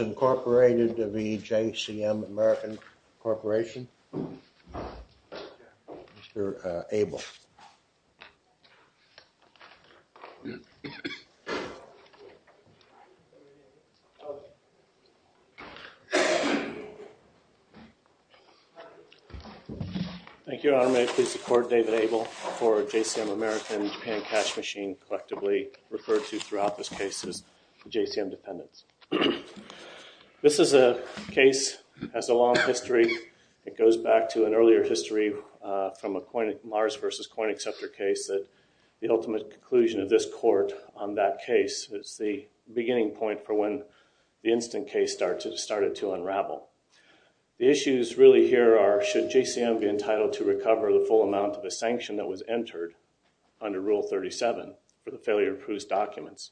Incorporated v. JCM American Corporation. Mr. Abel. Thank you, Your Honor. May I please support David Abel for JCM American, Japan Cash Machine, collectively referred to throughout this case as the JCM Independence. This is a case that has a long history. It goes back to an earlier history from a Mars v. Koinexceptor case that the ultimate conclusion of this court on that case is the beginning point for when the instant case started to unravel. The issues really here are should JCM be entitled to recover the full amount of a sanction that was entered under Rule 37 for the failure to approve documents,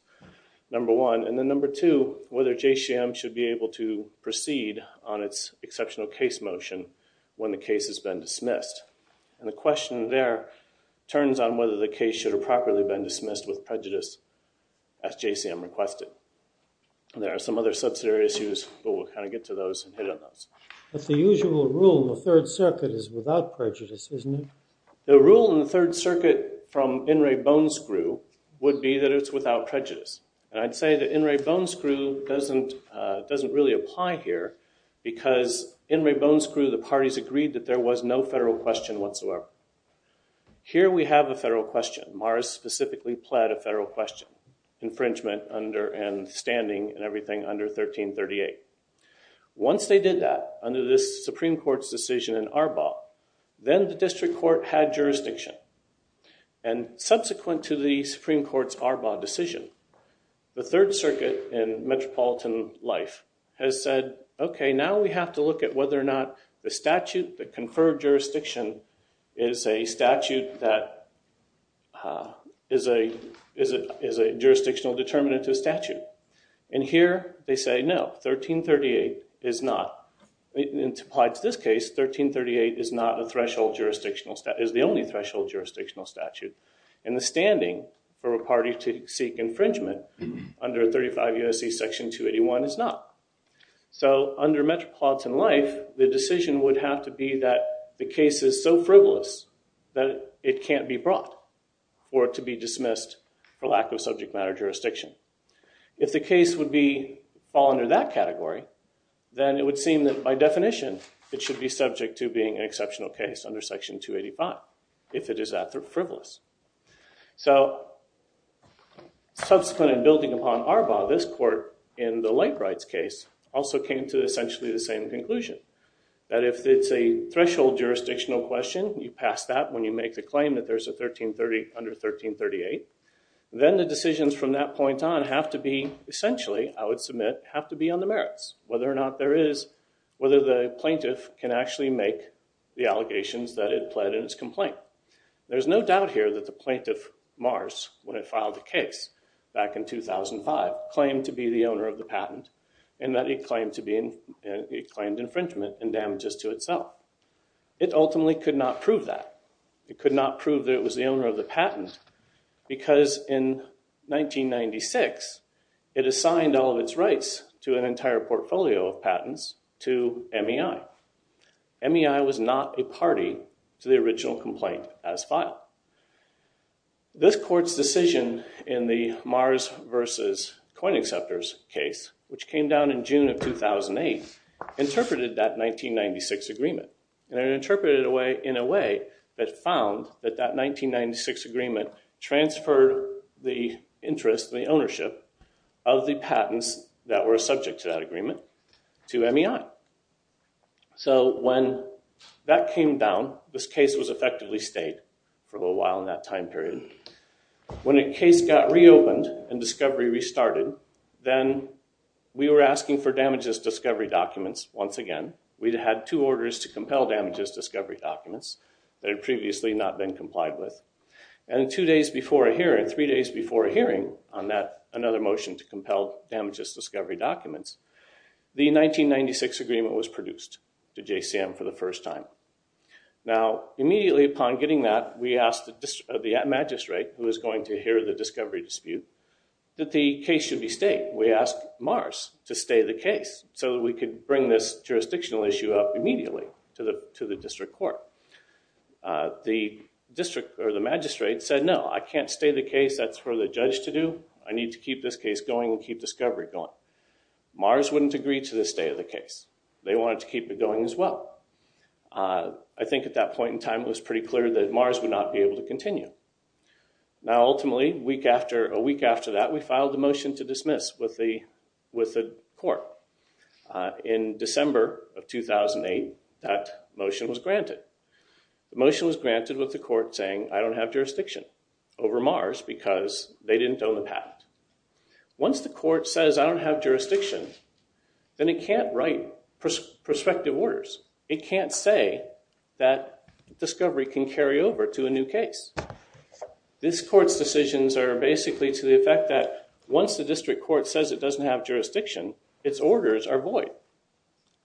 number one. And then number two, whether JCM should be able to proceed on its exceptional case motion when the case has been dismissed. And the question there turns on whether the case should have properly been dismissed with prejudice as JCM requested. There are some other subsidiary issues, but we'll kind of get to those and hit on those. But the usual rule in the Third Circuit is without prejudice, isn't it? The rule in the In re bone screw would be that it's without prejudice. And I'd say that in re bone screw doesn't really apply here because in re bone screw the parties agreed that there was no federal question whatsoever. Here we have a federal question. Mars specifically pled a federal question, infringement under and standing and everything under 1338. Once they did that under this Supreme Court's decision in Arbaugh, then the district court had jurisdiction. And subsequent to the Supreme Court's Arbaugh decision, the Third Circuit in metropolitan life has said, okay, now we have to look at whether or not the statute, the conferred jurisdiction, is a statute that is a jurisdictional determinant to a statute. And here they say, no, 1338 is not. In this case, 1338 is not a threshold jurisdictional statute, is the only threshold jurisdictional statute. And the standing for a party to seek infringement under 35 U.S.C. Section 281 is not. So under metropolitan life, the decision would have to be that the case is so frivolous that it can't be brought or to be dismissed for lack of subject matter jurisdiction. If the case would fall under that category, then it would seem that by definition it should be subject to being an exceptional case under Section 285, if it is that frivolous. So, subsequent and building upon Arbaugh, this court in the Lakewrights case also came to essentially the same conclusion. That if it's a threshold jurisdictional question, you pass that when you make the claim that there's a 1330 under 1338. Then the decisions from that point on have to be, essentially, I would submit, have to be on the merits. Whether or not there is, whether the plaintiff can actually make the allegations that it pled in its complaint. There's no doubt here that the plaintiff, Mars, when it filed the case back in 2005, claimed to be the owner of the patent, and that he claimed to be, he claimed infringement and damages to itself. It ultimately could not prove that. It could not prove that it was the owner of the patent, because in 1996, it assigned all of its portfolio of patents to MEI. MEI was not a party to the original complaint as filed. This court's decision in the Mars versus Coin Acceptors case, which came down in June of 2008, interpreted that 1996 agreement. And it interpreted it in a way that found that that 1996 agreement transferred the interest, the patent, to MEI. So when that came down, this case was effectively stayed for a while in that time period. When a case got reopened and discovery restarted, then we were asking for damages discovery documents once again. We'd had two orders to compel damages discovery documents that had previously not been complied with. And two days before a hearing, three days before a hearing on another motion to compel damages discovery documents, the 1996 agreement was produced to JCM for the first time. Now, immediately upon getting that, we asked the magistrate, who was going to hear the discovery dispute, that the case should be stayed. We asked Mars to stay the case so that we could bring this jurisdictional issue up immediately to the district court. The district, or the magistrate, said, no, I can't stay the case. That's for the judge to do. I need to keep this case going and keep discovery going. Mars wouldn't agree to the stay of the case. They wanted to keep it going as well. I think at that point in time it was pretty clear that Mars would not be able to continue. Now ultimately, a week after that, we filed the motion to dismiss with the court. In December of 2008, that motion was granted. The motion was granted with the court saying, I don't have jurisdiction over Mars because they didn't own the patent. Once the court says, I don't have jurisdiction, then it can't write prospective orders. It can't say that discovery can carry over to a new case. This court's decisions are basically to the effect that once the district court says it doesn't have jurisdiction, its orders are void.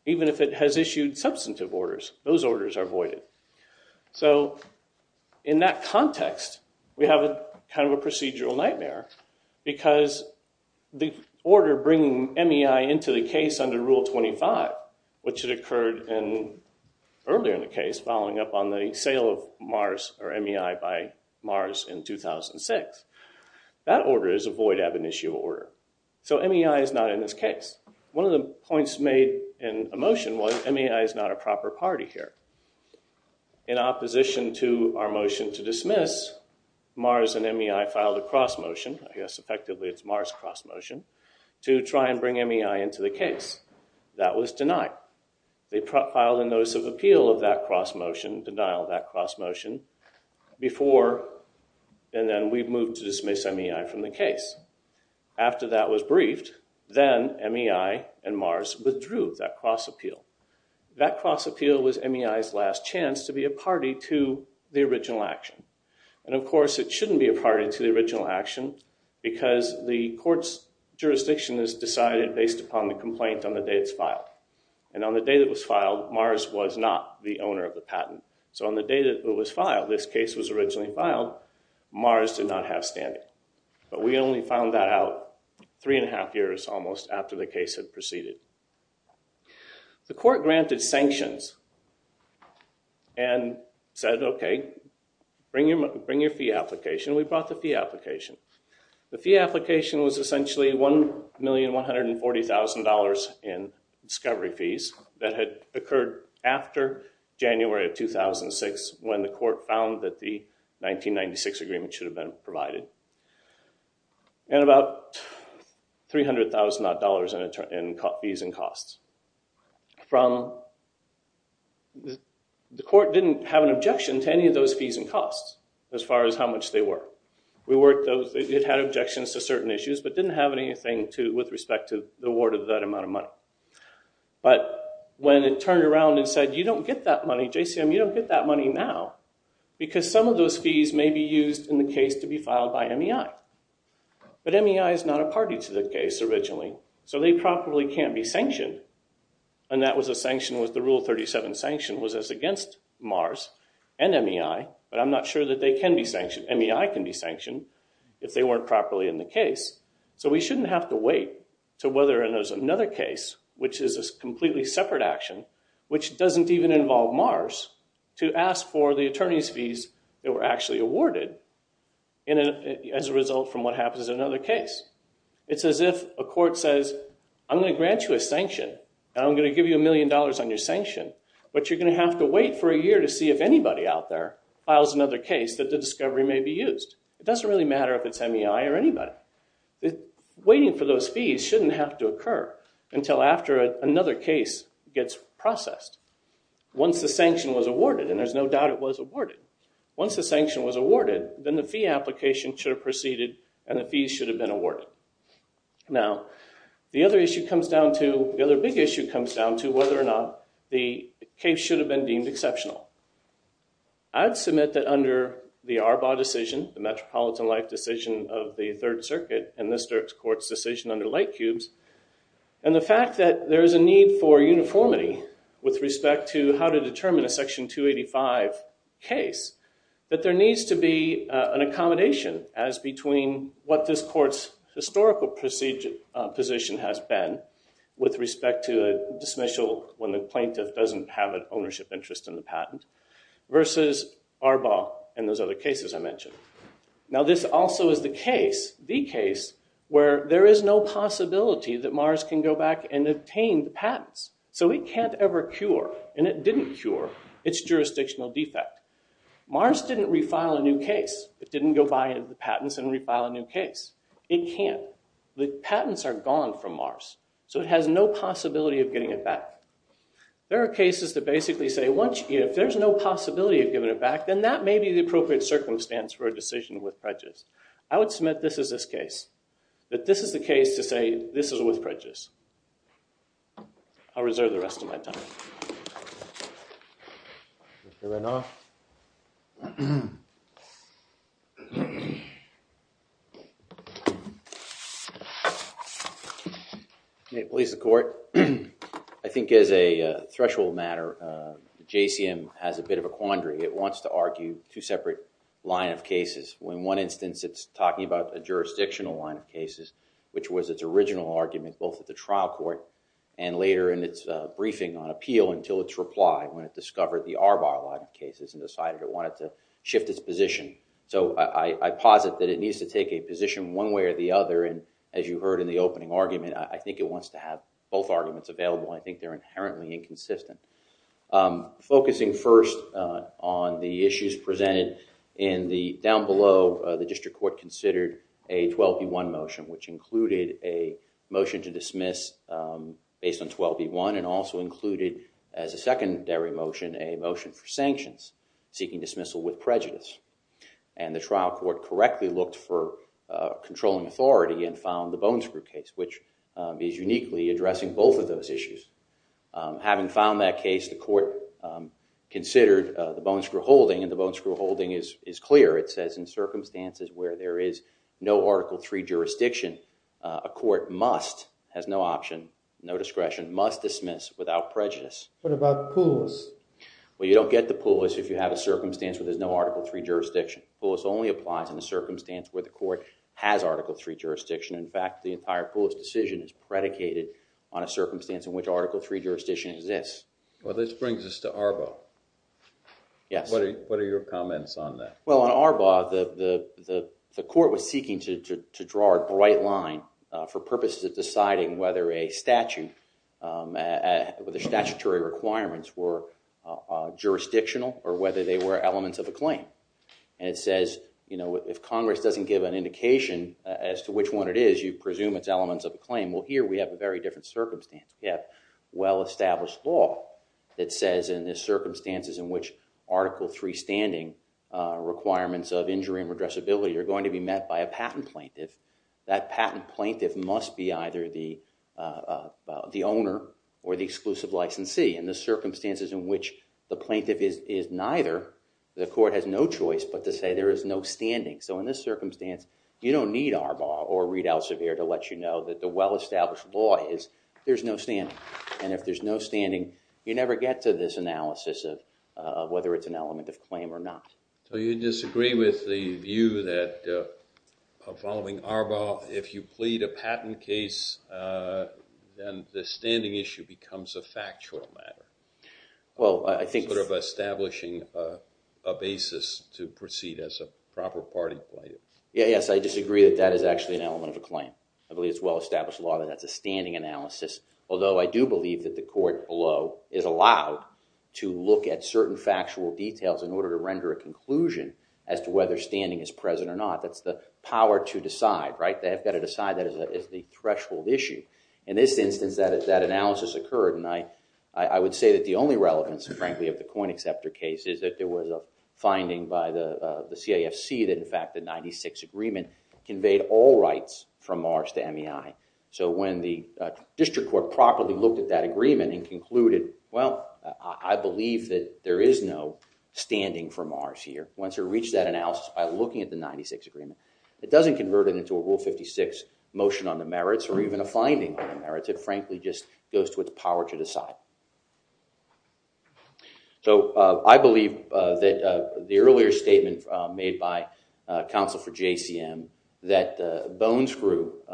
Even if it has issued substantive orders, those orders are voided. So in that context, we have a kind of a procedural nightmare because the order bringing MEI into the case under Rule 25, which had occurred earlier in the case following up on the sale of Mars or MEI by Mars in 2006, that order is a void ab initio order. So MEI is not in this case. One of the points made in a motion was MEI is not a Mars and MEI filed a cross motion. Yes, effectively, it's Mars cross motion to try and bring MEI into the case. That was denied. They filed a notice of appeal of that cross motion, denial of that cross motion, before and then we moved to dismiss MEI from the case. After that was briefed, then MEI and Mars withdrew that cross appeal. That cross appeal was MEI's last chance to be a party to the original action because the court's jurisdiction is decided based upon the complaint on the day it's filed. And on the day that was filed, Mars was not the owner of the patent. So on the day that it was filed, this case was originally filed, Mars did not have standing. But we only found that out three and a half years almost after the case had proceeded. The court granted sanctions and said, okay, bring your fee application. We brought the fee application. The fee application was essentially $1,140,000 in discovery fees that had occurred after January of 2006 when the court found that the 1996 agreement should have been provided. And about $300,000 in fees and costs. The court didn't have an objection to any of those fees and costs as far as how much they were. It had objections to certain issues but didn't have anything with respect to the award of that amount of money. But when it turned around and said, you don't get that money, JCM, you don't get that money now because some of those fees may be used in the case to be filed by MEI. But MEI is not a party to the case originally, so they probably can't be sanctioned. And that was a sanction was the Rule 37 sanction was as against Mars and MEI, but I'm not sure that they can be sanctioned. MEI can be sanctioned if they weren't properly in the case. So we shouldn't have to wait to whether there's another case which is a completely separate action, which doesn't even involve Mars, to ask for the attorney's fees that were actually awarded as a result from what happens in another case. It's as if a court says, I'm going to grant you a sanction and I'm going to give you a million dollars on your sanction, but you're going to have to wait for a year to see if anybody out there files another case that the discovery may be used. It doesn't really matter if it's MEI or anybody. Waiting for those fees shouldn't have to occur until after another case gets processed. Once the sanction was awarded, and there's no doubt it was awarded, once the sanction was awarded, then the fee application should have proceeded and the fees should have been awarded. Now the other issue comes down to, the other big issue comes down to, whether or not the case should have been deemed exceptional. I'd submit that under the Arbaugh decision, the Metropolitan Life decision of the Third Circuit, and this court's decision under Lightcubes, and the fact that there is a need for uniformity with respect to how to determine a Section 285 case, that there needs to be an accommodation as between what this court's historical position has been with respect to a dismissal when the plaintiff doesn't have an ownership interest in the patent, versus Arbaugh and those other cases I mentioned. Now this also is the case, the case, where there is no possibility that Mars can go back and obtain the patents. So it can't ever cure, and it didn't cure, its jurisdictional defect. Mars didn't refile a new case. It didn't go buy the patents and refile a new case. It can't. The patents are gone from Mars, so it has no possibility of getting it back. There are cases that basically say, if there's no possibility of giving it back, then that may be the appropriate circumstance for a decision with prejudice. I would submit this is this case, that this is the case to say this is with prejudice. I'll reserve the rest of my time. Okay, please the court. I think as a threshold matter, JCM has a bit of a quandary. It wants to argue two separate line of cases. In one instance, it's original argument, both at the trial court and later in its briefing on appeal, until its reply when it discovered the Arbaugh line of cases and decided it wanted to shift its position. So I posit that it needs to take a position one way or the other, and as you heard in the opening argument, I think it wants to have both arguments available. I think they're inherently inconsistent. Focusing first on the issues presented in the, down below, the district court considered a 12b1 motion, which included a motion to dismiss based on 12b1 and also included as a secondary motion, a motion for sanctions seeking dismissal with prejudice. And the trial court correctly looked for controlling authority and found the bone screw case, which is uniquely addressing both of those issues. Having found that case, the court considered the bone screw holding and the bone screw holding is clear. It says in circumstances where there is no Article 3 jurisdiction, a court must, has no option, no discretion, must dismiss without prejudice. What about Poulos? Well, you don't get to Poulos if you have a circumstance where there's no Article 3 jurisdiction. Poulos only applies in the circumstance where the court has Article 3 jurisdiction. In fact, the entire Poulos decision is predicated on a circumstance in which Article 3 jurisdiction exists. Well, this brings us to Arbaugh. Yes. What are your comments on that? Well, on Arbaugh, the court was seeking to draw a bright line for purposes of deciding whether a statute, whether statutory requirements were jurisdictional or whether they were elements of a claim. And it says, you know, if Congress doesn't give an indication as to which one it is, you presume it's elements of a claim. Well, here we have a very different circumstance. We have well-established law that says in the circumstances in which Article 3 standing requirements of injury and redressability are going to be met by a patent plaintiff. That patent plaintiff must be either the owner or the exclusive licensee. In the circumstances in which the plaintiff is neither, the court has no choice but to say there is no standing. So in this circumstance, you don't need Arbaugh or well-established law is there's no standing. And if there's no standing, you never get to this analysis of whether it's an element of claim or not. So you disagree with the view that following Arbaugh, if you plead a patent case, then the standing issue becomes a factual matter? Well, I think... Sort of establishing a basis to proceed as a proper party plaintiff. Yes, I disagree that that is actually an element of a claim. I believe it's well-established law that that's a standing analysis. Although I do believe that the court below is allowed to look at certain factual details in order to render a conclusion as to whether standing is present or not. That's the power to decide, right? They have got to decide that as the threshold issue. In this instance, that analysis occurred and I would say that the only relevance, frankly, of the coin acceptor case is that there was a finding by the the CAFC that in fact the rights from Mars to MEI. So when the district court properly looked at that agreement and concluded, well, I believe that there is no standing for Mars here. Once you reach that analysis by looking at the 96 agreement, it doesn't convert it into a rule 56 motion on the merits or even a finding on the merits. It frankly just goes to what the power to decide. So I believe that the earlier statement made by counsel for JCM that Bones group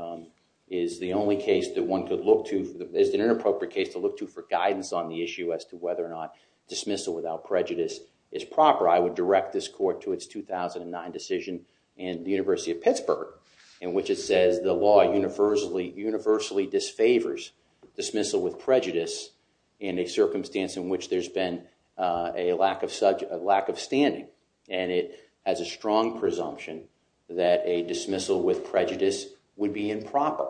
is the only case that one could look to, is an inappropriate case to look to for guidance on the issue as to whether or not dismissal without prejudice is proper. I would direct this court to its 2009 decision in the University of Pittsburgh in which it says the law universally disfavors dismissal with prejudice in a and it has a strong presumption that a dismissal with prejudice would be improper.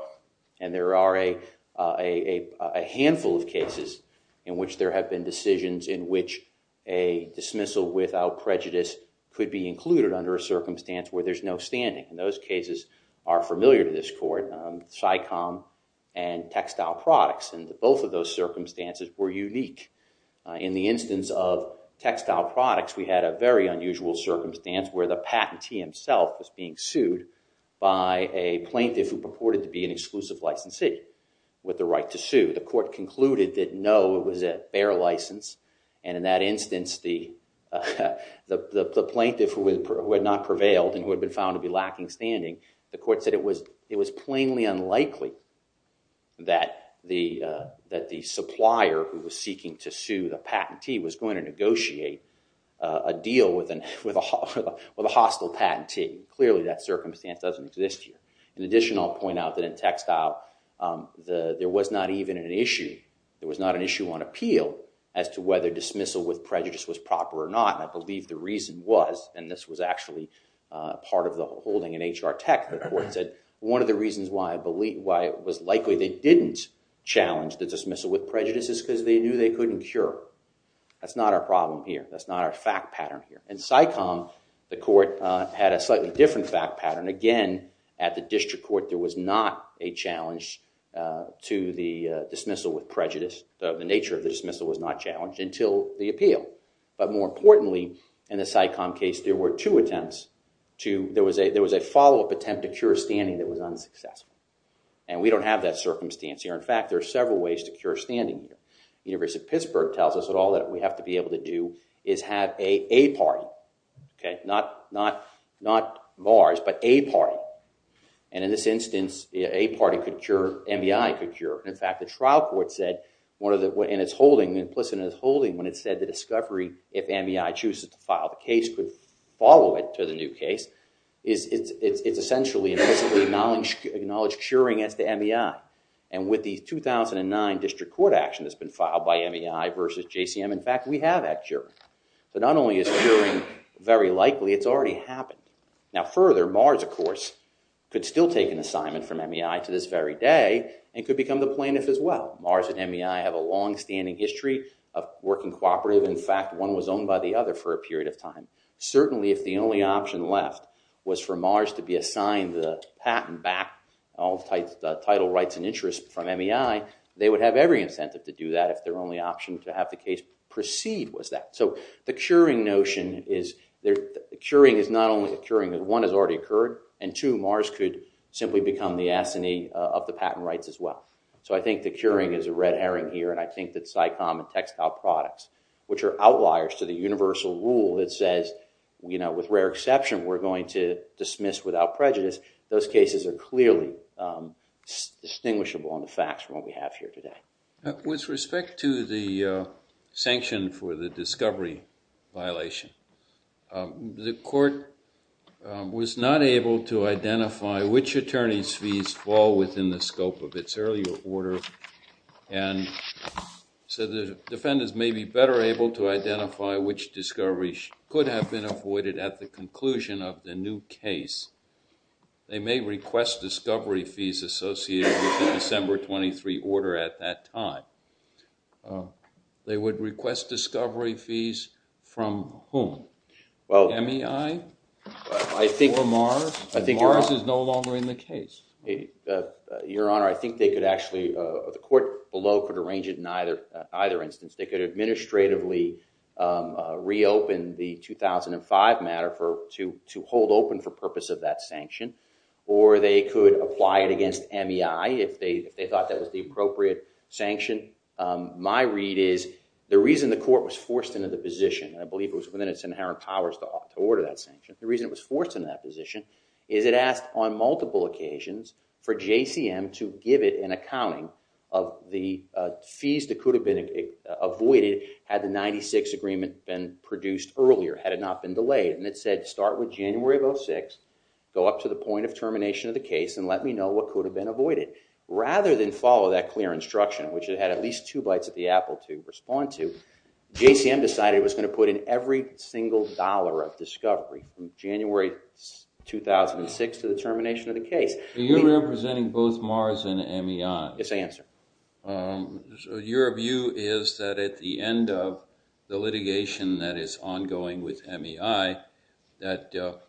And there are a handful of cases in which there have been decisions in which a dismissal without prejudice could be included under a circumstance where there's no standing. And those cases are familiar to this court. SICOM and textile products and both of those circumstances were unique. In the circumstance where the patentee himself was being sued by a plaintiff who purported to be an exclusive licensee with the right to sue, the court concluded that no it was a fair license and in that instance the plaintiff who had not prevailed and who had been found to be lacking standing, the court said it was it was plainly unlikely that the supplier who was a hostile patentee. Clearly that circumstance doesn't exist here. In addition I'll point out that in textile there was not even an issue, there was not an issue on appeal as to whether dismissal with prejudice was proper or not. I believe the reason was and this was actually part of the holding in HR Tech, the court said one of the reasons why it was likely they didn't challenge the dismissal with prejudice is because they knew they couldn't cure. That's not our problem here. That's not our fact pattern here. In SICOM the court had a slightly different fact pattern. Again at the district court there was not a challenge to the dismissal with prejudice. The nature of the dismissal was not challenged until the appeal but more importantly in the SICOM case there were two attempts to, there was a follow-up attempt to cure standing that was unsuccessful and we don't have that circumstance here. In fact there are several ways to cure standing here. University of Pittsburgh tells us that all that we have to be able to do is have a a party. Okay not not not bars but a party and in this instance a party could cure, MEI could cure. In fact the trial court said one of the way and it's holding implicit in its holding when it said the discovery if MEI chooses to file the case could follow it to the new case is it's essentially acknowledged curing as the MEI and with the 2009 district court action that's been filed by MEI versus JCM in fact we have that cure but not only is curing very likely it's already happened. Now further Mars of course could still take an assignment from MEI to this very day and could become the plaintiff as well. Mars and MEI have a long-standing history of working cooperative. In fact one was owned by the other for a period of time. Certainly if the only option left was for Mars to be assigned the patent back all types the title rights and interests from MEI they would have every incentive to do that if their only option to have the case proceed was that. So the curing notion is there the curing is not only a curing that one has already occurred and two Mars could simply become the asinine of the patent rights as well. So I think the curing is a red herring here and I think that SICOM and textile products which are outliers to the universal rule that says you know with rare exception we're going to dismiss without prejudice those cases are clearly distinguishable on the facts from what we have here today. With respect to the sanction for the discovery violation the court was not able to identify which attorneys fees fall within the scope of its earlier order and so the defendants may be better able to identify which discoveries could have been avoided at the conclusion of the new case. They may request discovery fees associated with the December 23 order at that time. They would request discovery fees from whom? Well MEI? I think Mars is no longer in the case. Your honor I think they could actually, the court below could arrange it in either instance. They could administratively reopen the 2005 matter for to to hold open for purpose of that sanction or they could apply it against MEI if they thought that was the appropriate sanction. My read is the reason the court was forced into the position I believe it was within its inherent powers to order that sanction. The reason it was forced in that position is it asked on accounting of the fees that could have been avoided had the 96 agreement been produced earlier had it not been delayed and it said start with January of 06, go up to the point of termination of the case and let me know what could have been avoided. Rather than follow that clear instruction which it had at least two bites at the apple to respond to, JCM decided it was going to put in every single dollar of discovery from January 2006 to the termination of the case. You're representing both Mars and MEI. Yes, I am, sir. Your view is that at the end of the litigation that is ongoing with MEI that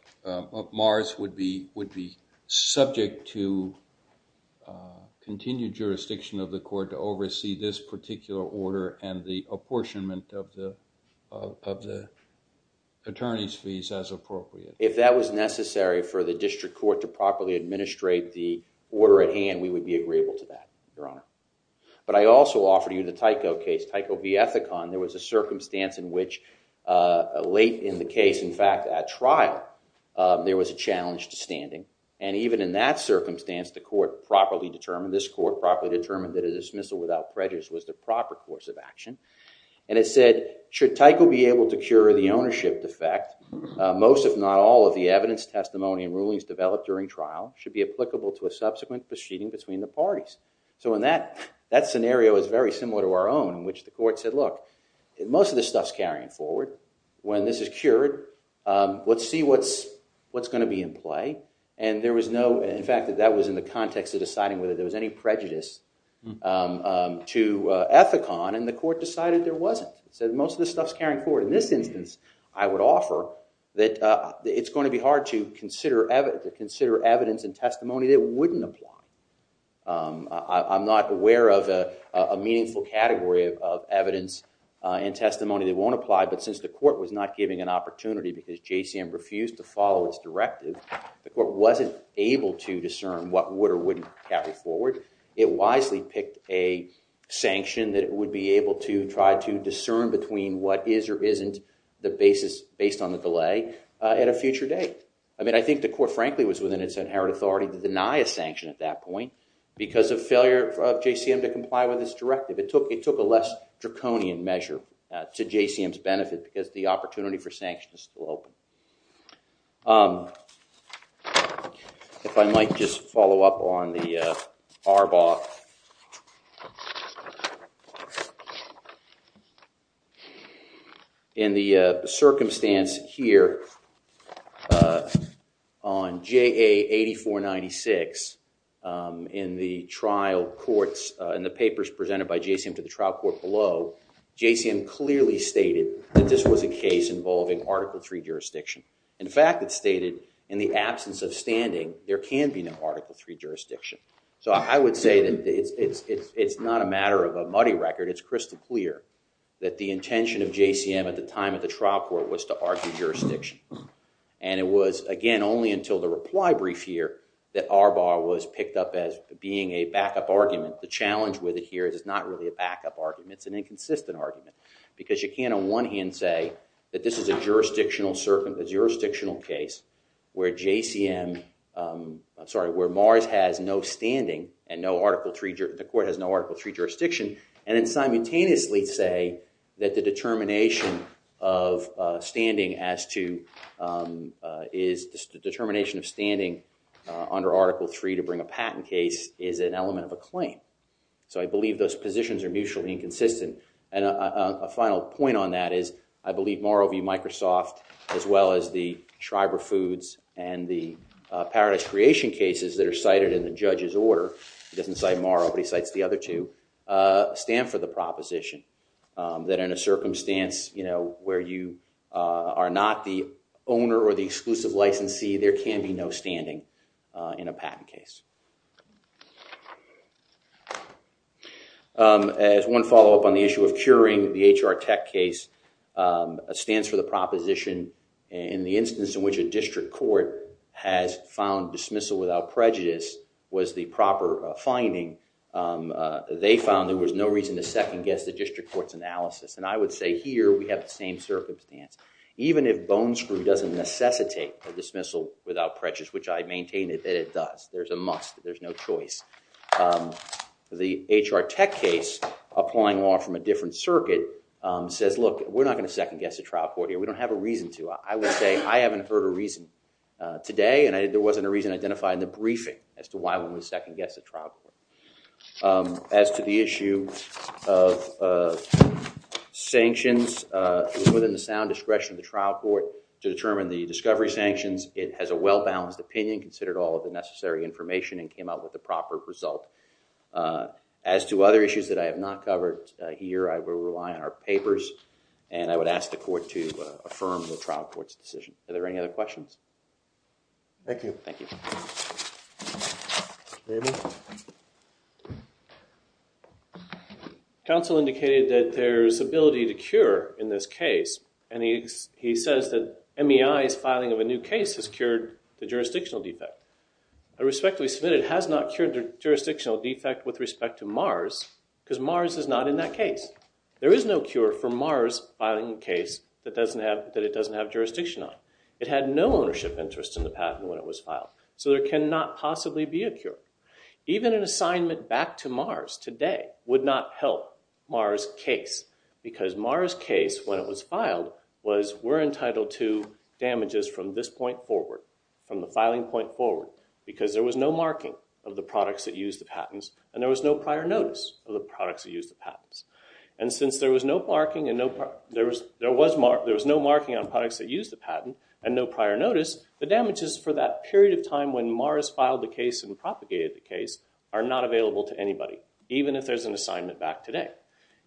Mars would be would be subject to continued jurisdiction of the court to oversee this particular order and the apportionment of the of the attorneys fees as appropriate. If that was the order at hand we would be agreeable to that, Your Honor. But I also offered you the Tyco case, Tyco v. Ethicon. There was a circumstance in which late in the case, in fact at trial, there was a challenge to standing and even in that circumstance the court properly determined, this court properly determined, that a dismissal without prejudice was the proper course of action and it said should Tyco be able to cure the ownership defect? Most if not all of the evidence, testimony, and rulings developed during trial should be applicable to a subsequent proceeding between the parties. So in that that scenario is very similar to our own in which the court said, look, most of this stuff's carrying forward. When this is cured, let's see what's what's going to be in play. And there was no, in fact, that was in the context of deciding whether there was any prejudice to Ethicon and the court decided there wasn't. It said most of this stuff's carrying forward. In this instance, I would offer that it's going to be hard to consider evidence and testimony that wouldn't apply. I'm not aware of a meaningful category of evidence and testimony that won't apply, but since the court was not giving an opportunity because JCM refused to follow its directive, the court wasn't able to discern what would or wouldn't carry forward. It wisely picked a sanction that it would be able to try to discern between what is or isn't the basis based on the delay at a future date. I mean, I think the court frankly was within its inherent authority to deny a sanction at that point because of failure of JCM to comply with this directive. It took it took a less draconian measure to JCM's benefit because the opportunity for sanction is still open. If I might just follow up on the Arbaugh. In the circumstance here on JA 8496 in the trial courts in the papers presented by JCM to the trial court below, JCM clearly stated that this was a case involving Article III jurisdiction. In fact, it stated in the absence of standing there can be no Article III jurisdiction. So I would say that it's not a matter of a muddy record. It's crystal clear that the intention of JCM at the time at the trial court was to argue jurisdiction. And it was again only until the reply brief here that Arbaugh was picked up as being a backup argument. The challenge with it here is it's not really a backup argument. It's an inconsistent argument because you can't on one hand say that this is a jurisdictional case where JCM, I'm sorry, where Mars has no standing and no Article III, the court has no Article III jurisdiction and then the determination of standing under Article III to bring a patent case is an element of a claim. So I believe those positions are mutually inconsistent. And a final point on that is I believe Morrill v. Microsoft as well as the Schreiber Foods and the Paradise Creation cases that are cited in the judge's order, he doesn't cite Morrill but he cites the other two, stand for the are not the owner or the exclusive licensee. There can be no standing in a patent case. As one follow-up on the issue of curing the HR tech case stands for the proposition in the instance in which a district court has found dismissal without prejudice was the proper finding. They found there was no reason to second-guess the district court's analysis. And I would say here we have the same circumstance. Even if Bonescrew doesn't necessitate a dismissal without prejudice, which I maintain that it does, there's a must. There's no choice. The HR tech case applying law from a different circuit says, look, we're not going to second-guess a trial court here. We don't have a reason to. I would say I haven't heard a reason today and there wasn't a reason identified in the briefing as to why we would second-guess a trial court. As to the issue of sanctions within the sound discretion of the trial court to determine the discovery sanctions, it has a well-balanced opinion, considered all of the necessary information, and came out with the proper result. As to other issues that I have not covered here, I will rely on our papers and I would ask the court to affirm the trial court's decision. Are there any other questions? Thank you. Council indicated that there's ability to cure in this case and he says that MEI's filing of a new case has cured the jurisdictional defect. I respectfully submit it has not cured the jurisdictional defect with respect to Mars because Mars is not in that case. There is no cure for Mars filing a case that doesn't have that it doesn't have jurisdiction on. It had no ownership interest in the patent when it was filed, so there cannot possibly be a cure. Even an assignment back to Mars today would not help Mars case because Mars case, when it was filed, was we're entitled to damages from this point forward, from the filing point forward, because there was no marking of the products that used the patents and there was no prior notice of the products that used the patents. And since there was no marking on products that used the patent and no prior notice, the damages for that period of time when Mars filed the case and propagated the case are not available to anybody, even if there's an assignment back today.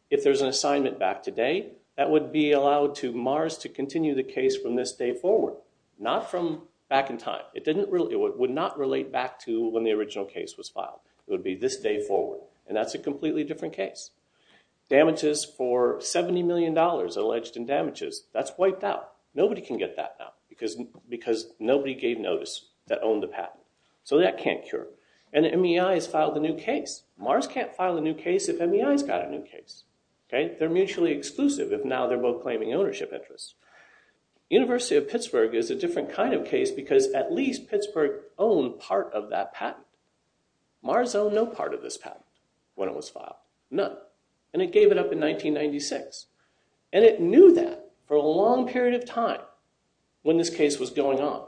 If there's an assignment back today, that would be allowed to Mars to continue the case from this day forward, not from back in time. It would not relate back to when the original case was filed. It would be this day forward and that's a completely different case. Damages for 70 million dollars alleged in damages, that's wiped out. Nobody can get that now because nobody gave notice that owned the patent, so that can't cure. And the MEI has filed a new case. Mars can't file a new case if MEI's got a new case, okay? They're mutually exclusive if now they're both claiming ownership interests. University of Pittsburgh is a different kind of case because at least Pittsburgh owned part of that patent. Mars owned no part of this patent when it was filed. None. And it gave it up in 1996. And it knew that for a long period of time when this case was going on.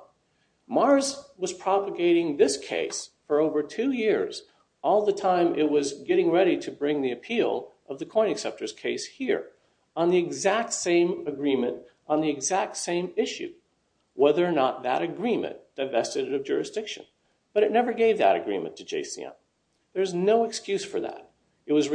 Mars was propagating this case for over two years, all the time it was getting ready to bring the appeal of the coin acceptors case here, on the exact same agreement, on the exact same issue, whether or not that agreement divested of jurisdiction. But it never gave that agreement to JCM. There's no excuse for that. It was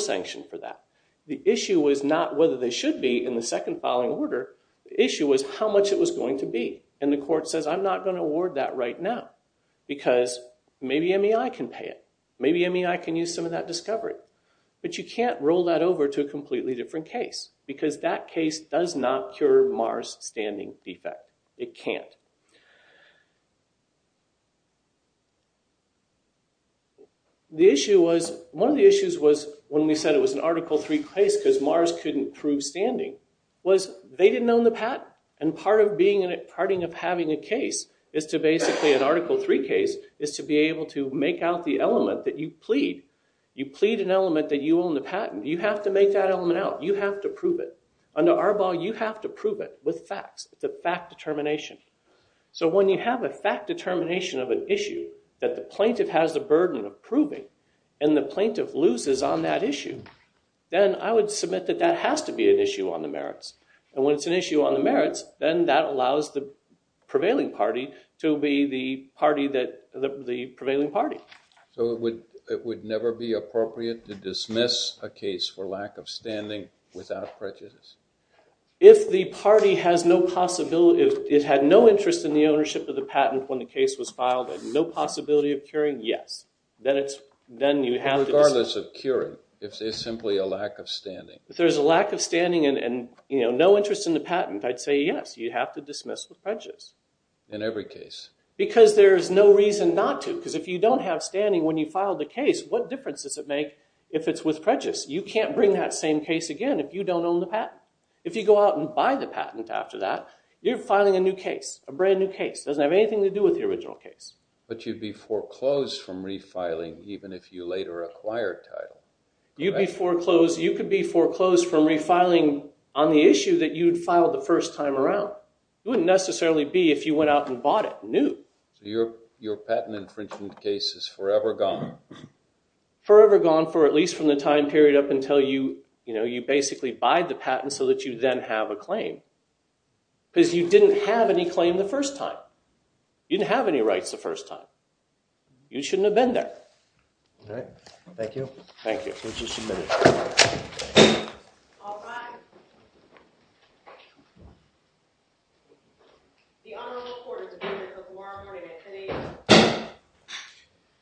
sanctioned for that. The issue was not whether they should be in the second filing order. The issue was how much it was going to be. And the court says, I'm not going to award that right now because maybe MEI can pay it. Maybe MEI can use some of that discovery. But you can't roll that over to a completely different case because that case does not cure Mars' standing defect. It can't. The issue was, one of the issues was, when we said it was an Article 3 case because Mars couldn't prove standing, was they didn't own the patent. And part of having a case is to basically, an Article 3 case, is to be able to make out the element that you plead. You plead an element that you own the patent. You have to make that element out. You have to prove it. Under Arbaugh, you have to prove it with facts. It's a fact determination. So when you have a fact determination of an issue that the plaintiff has the burden of proving and the plaintiff loses on that issue, then I would submit that that has to be an issue on the merits. And when it's an issue on the merits, then that allows the prevailing party to be the party that, the prevailing party. So it would, it would never be appropriate to dismiss a case for lack of standing without prejudice. If the party has no possibility, it had no interest in the ownership of the patent when the case was filed and no possibility of curing, yes. Then it's, then you have to. Regardless of curing, if there's simply a lack of standing. If there's a lack of standing and, you know, no interest in the patent, I'd say yes, you have to dismiss with prejudice. In every case. Because there's no reason not to. Because if you don't have standing when you file the case, what difference does it make if it's with prejudice? You can't bring that same case again if you don't own the patent. If you go out and buy the patent after that, you're filing a new case. A brand new case. Doesn't have anything to do with the original case. But you'd be foreclosed from refiling even if you later acquired title. You'd be foreclosed, you could be foreclosed from refiling on the issue that you'd filed the first time around. You wouldn't necessarily be if you went out and bought it new. Your patent infringement case is forever gone. Forever gone for at least from the time period up until you, you know, you basically buy the patent so that you then have a claim. Because you didn't have any claim the first time. You didn't have any rights the first time. You shouldn't have been there. All right. Thank you. Thank you.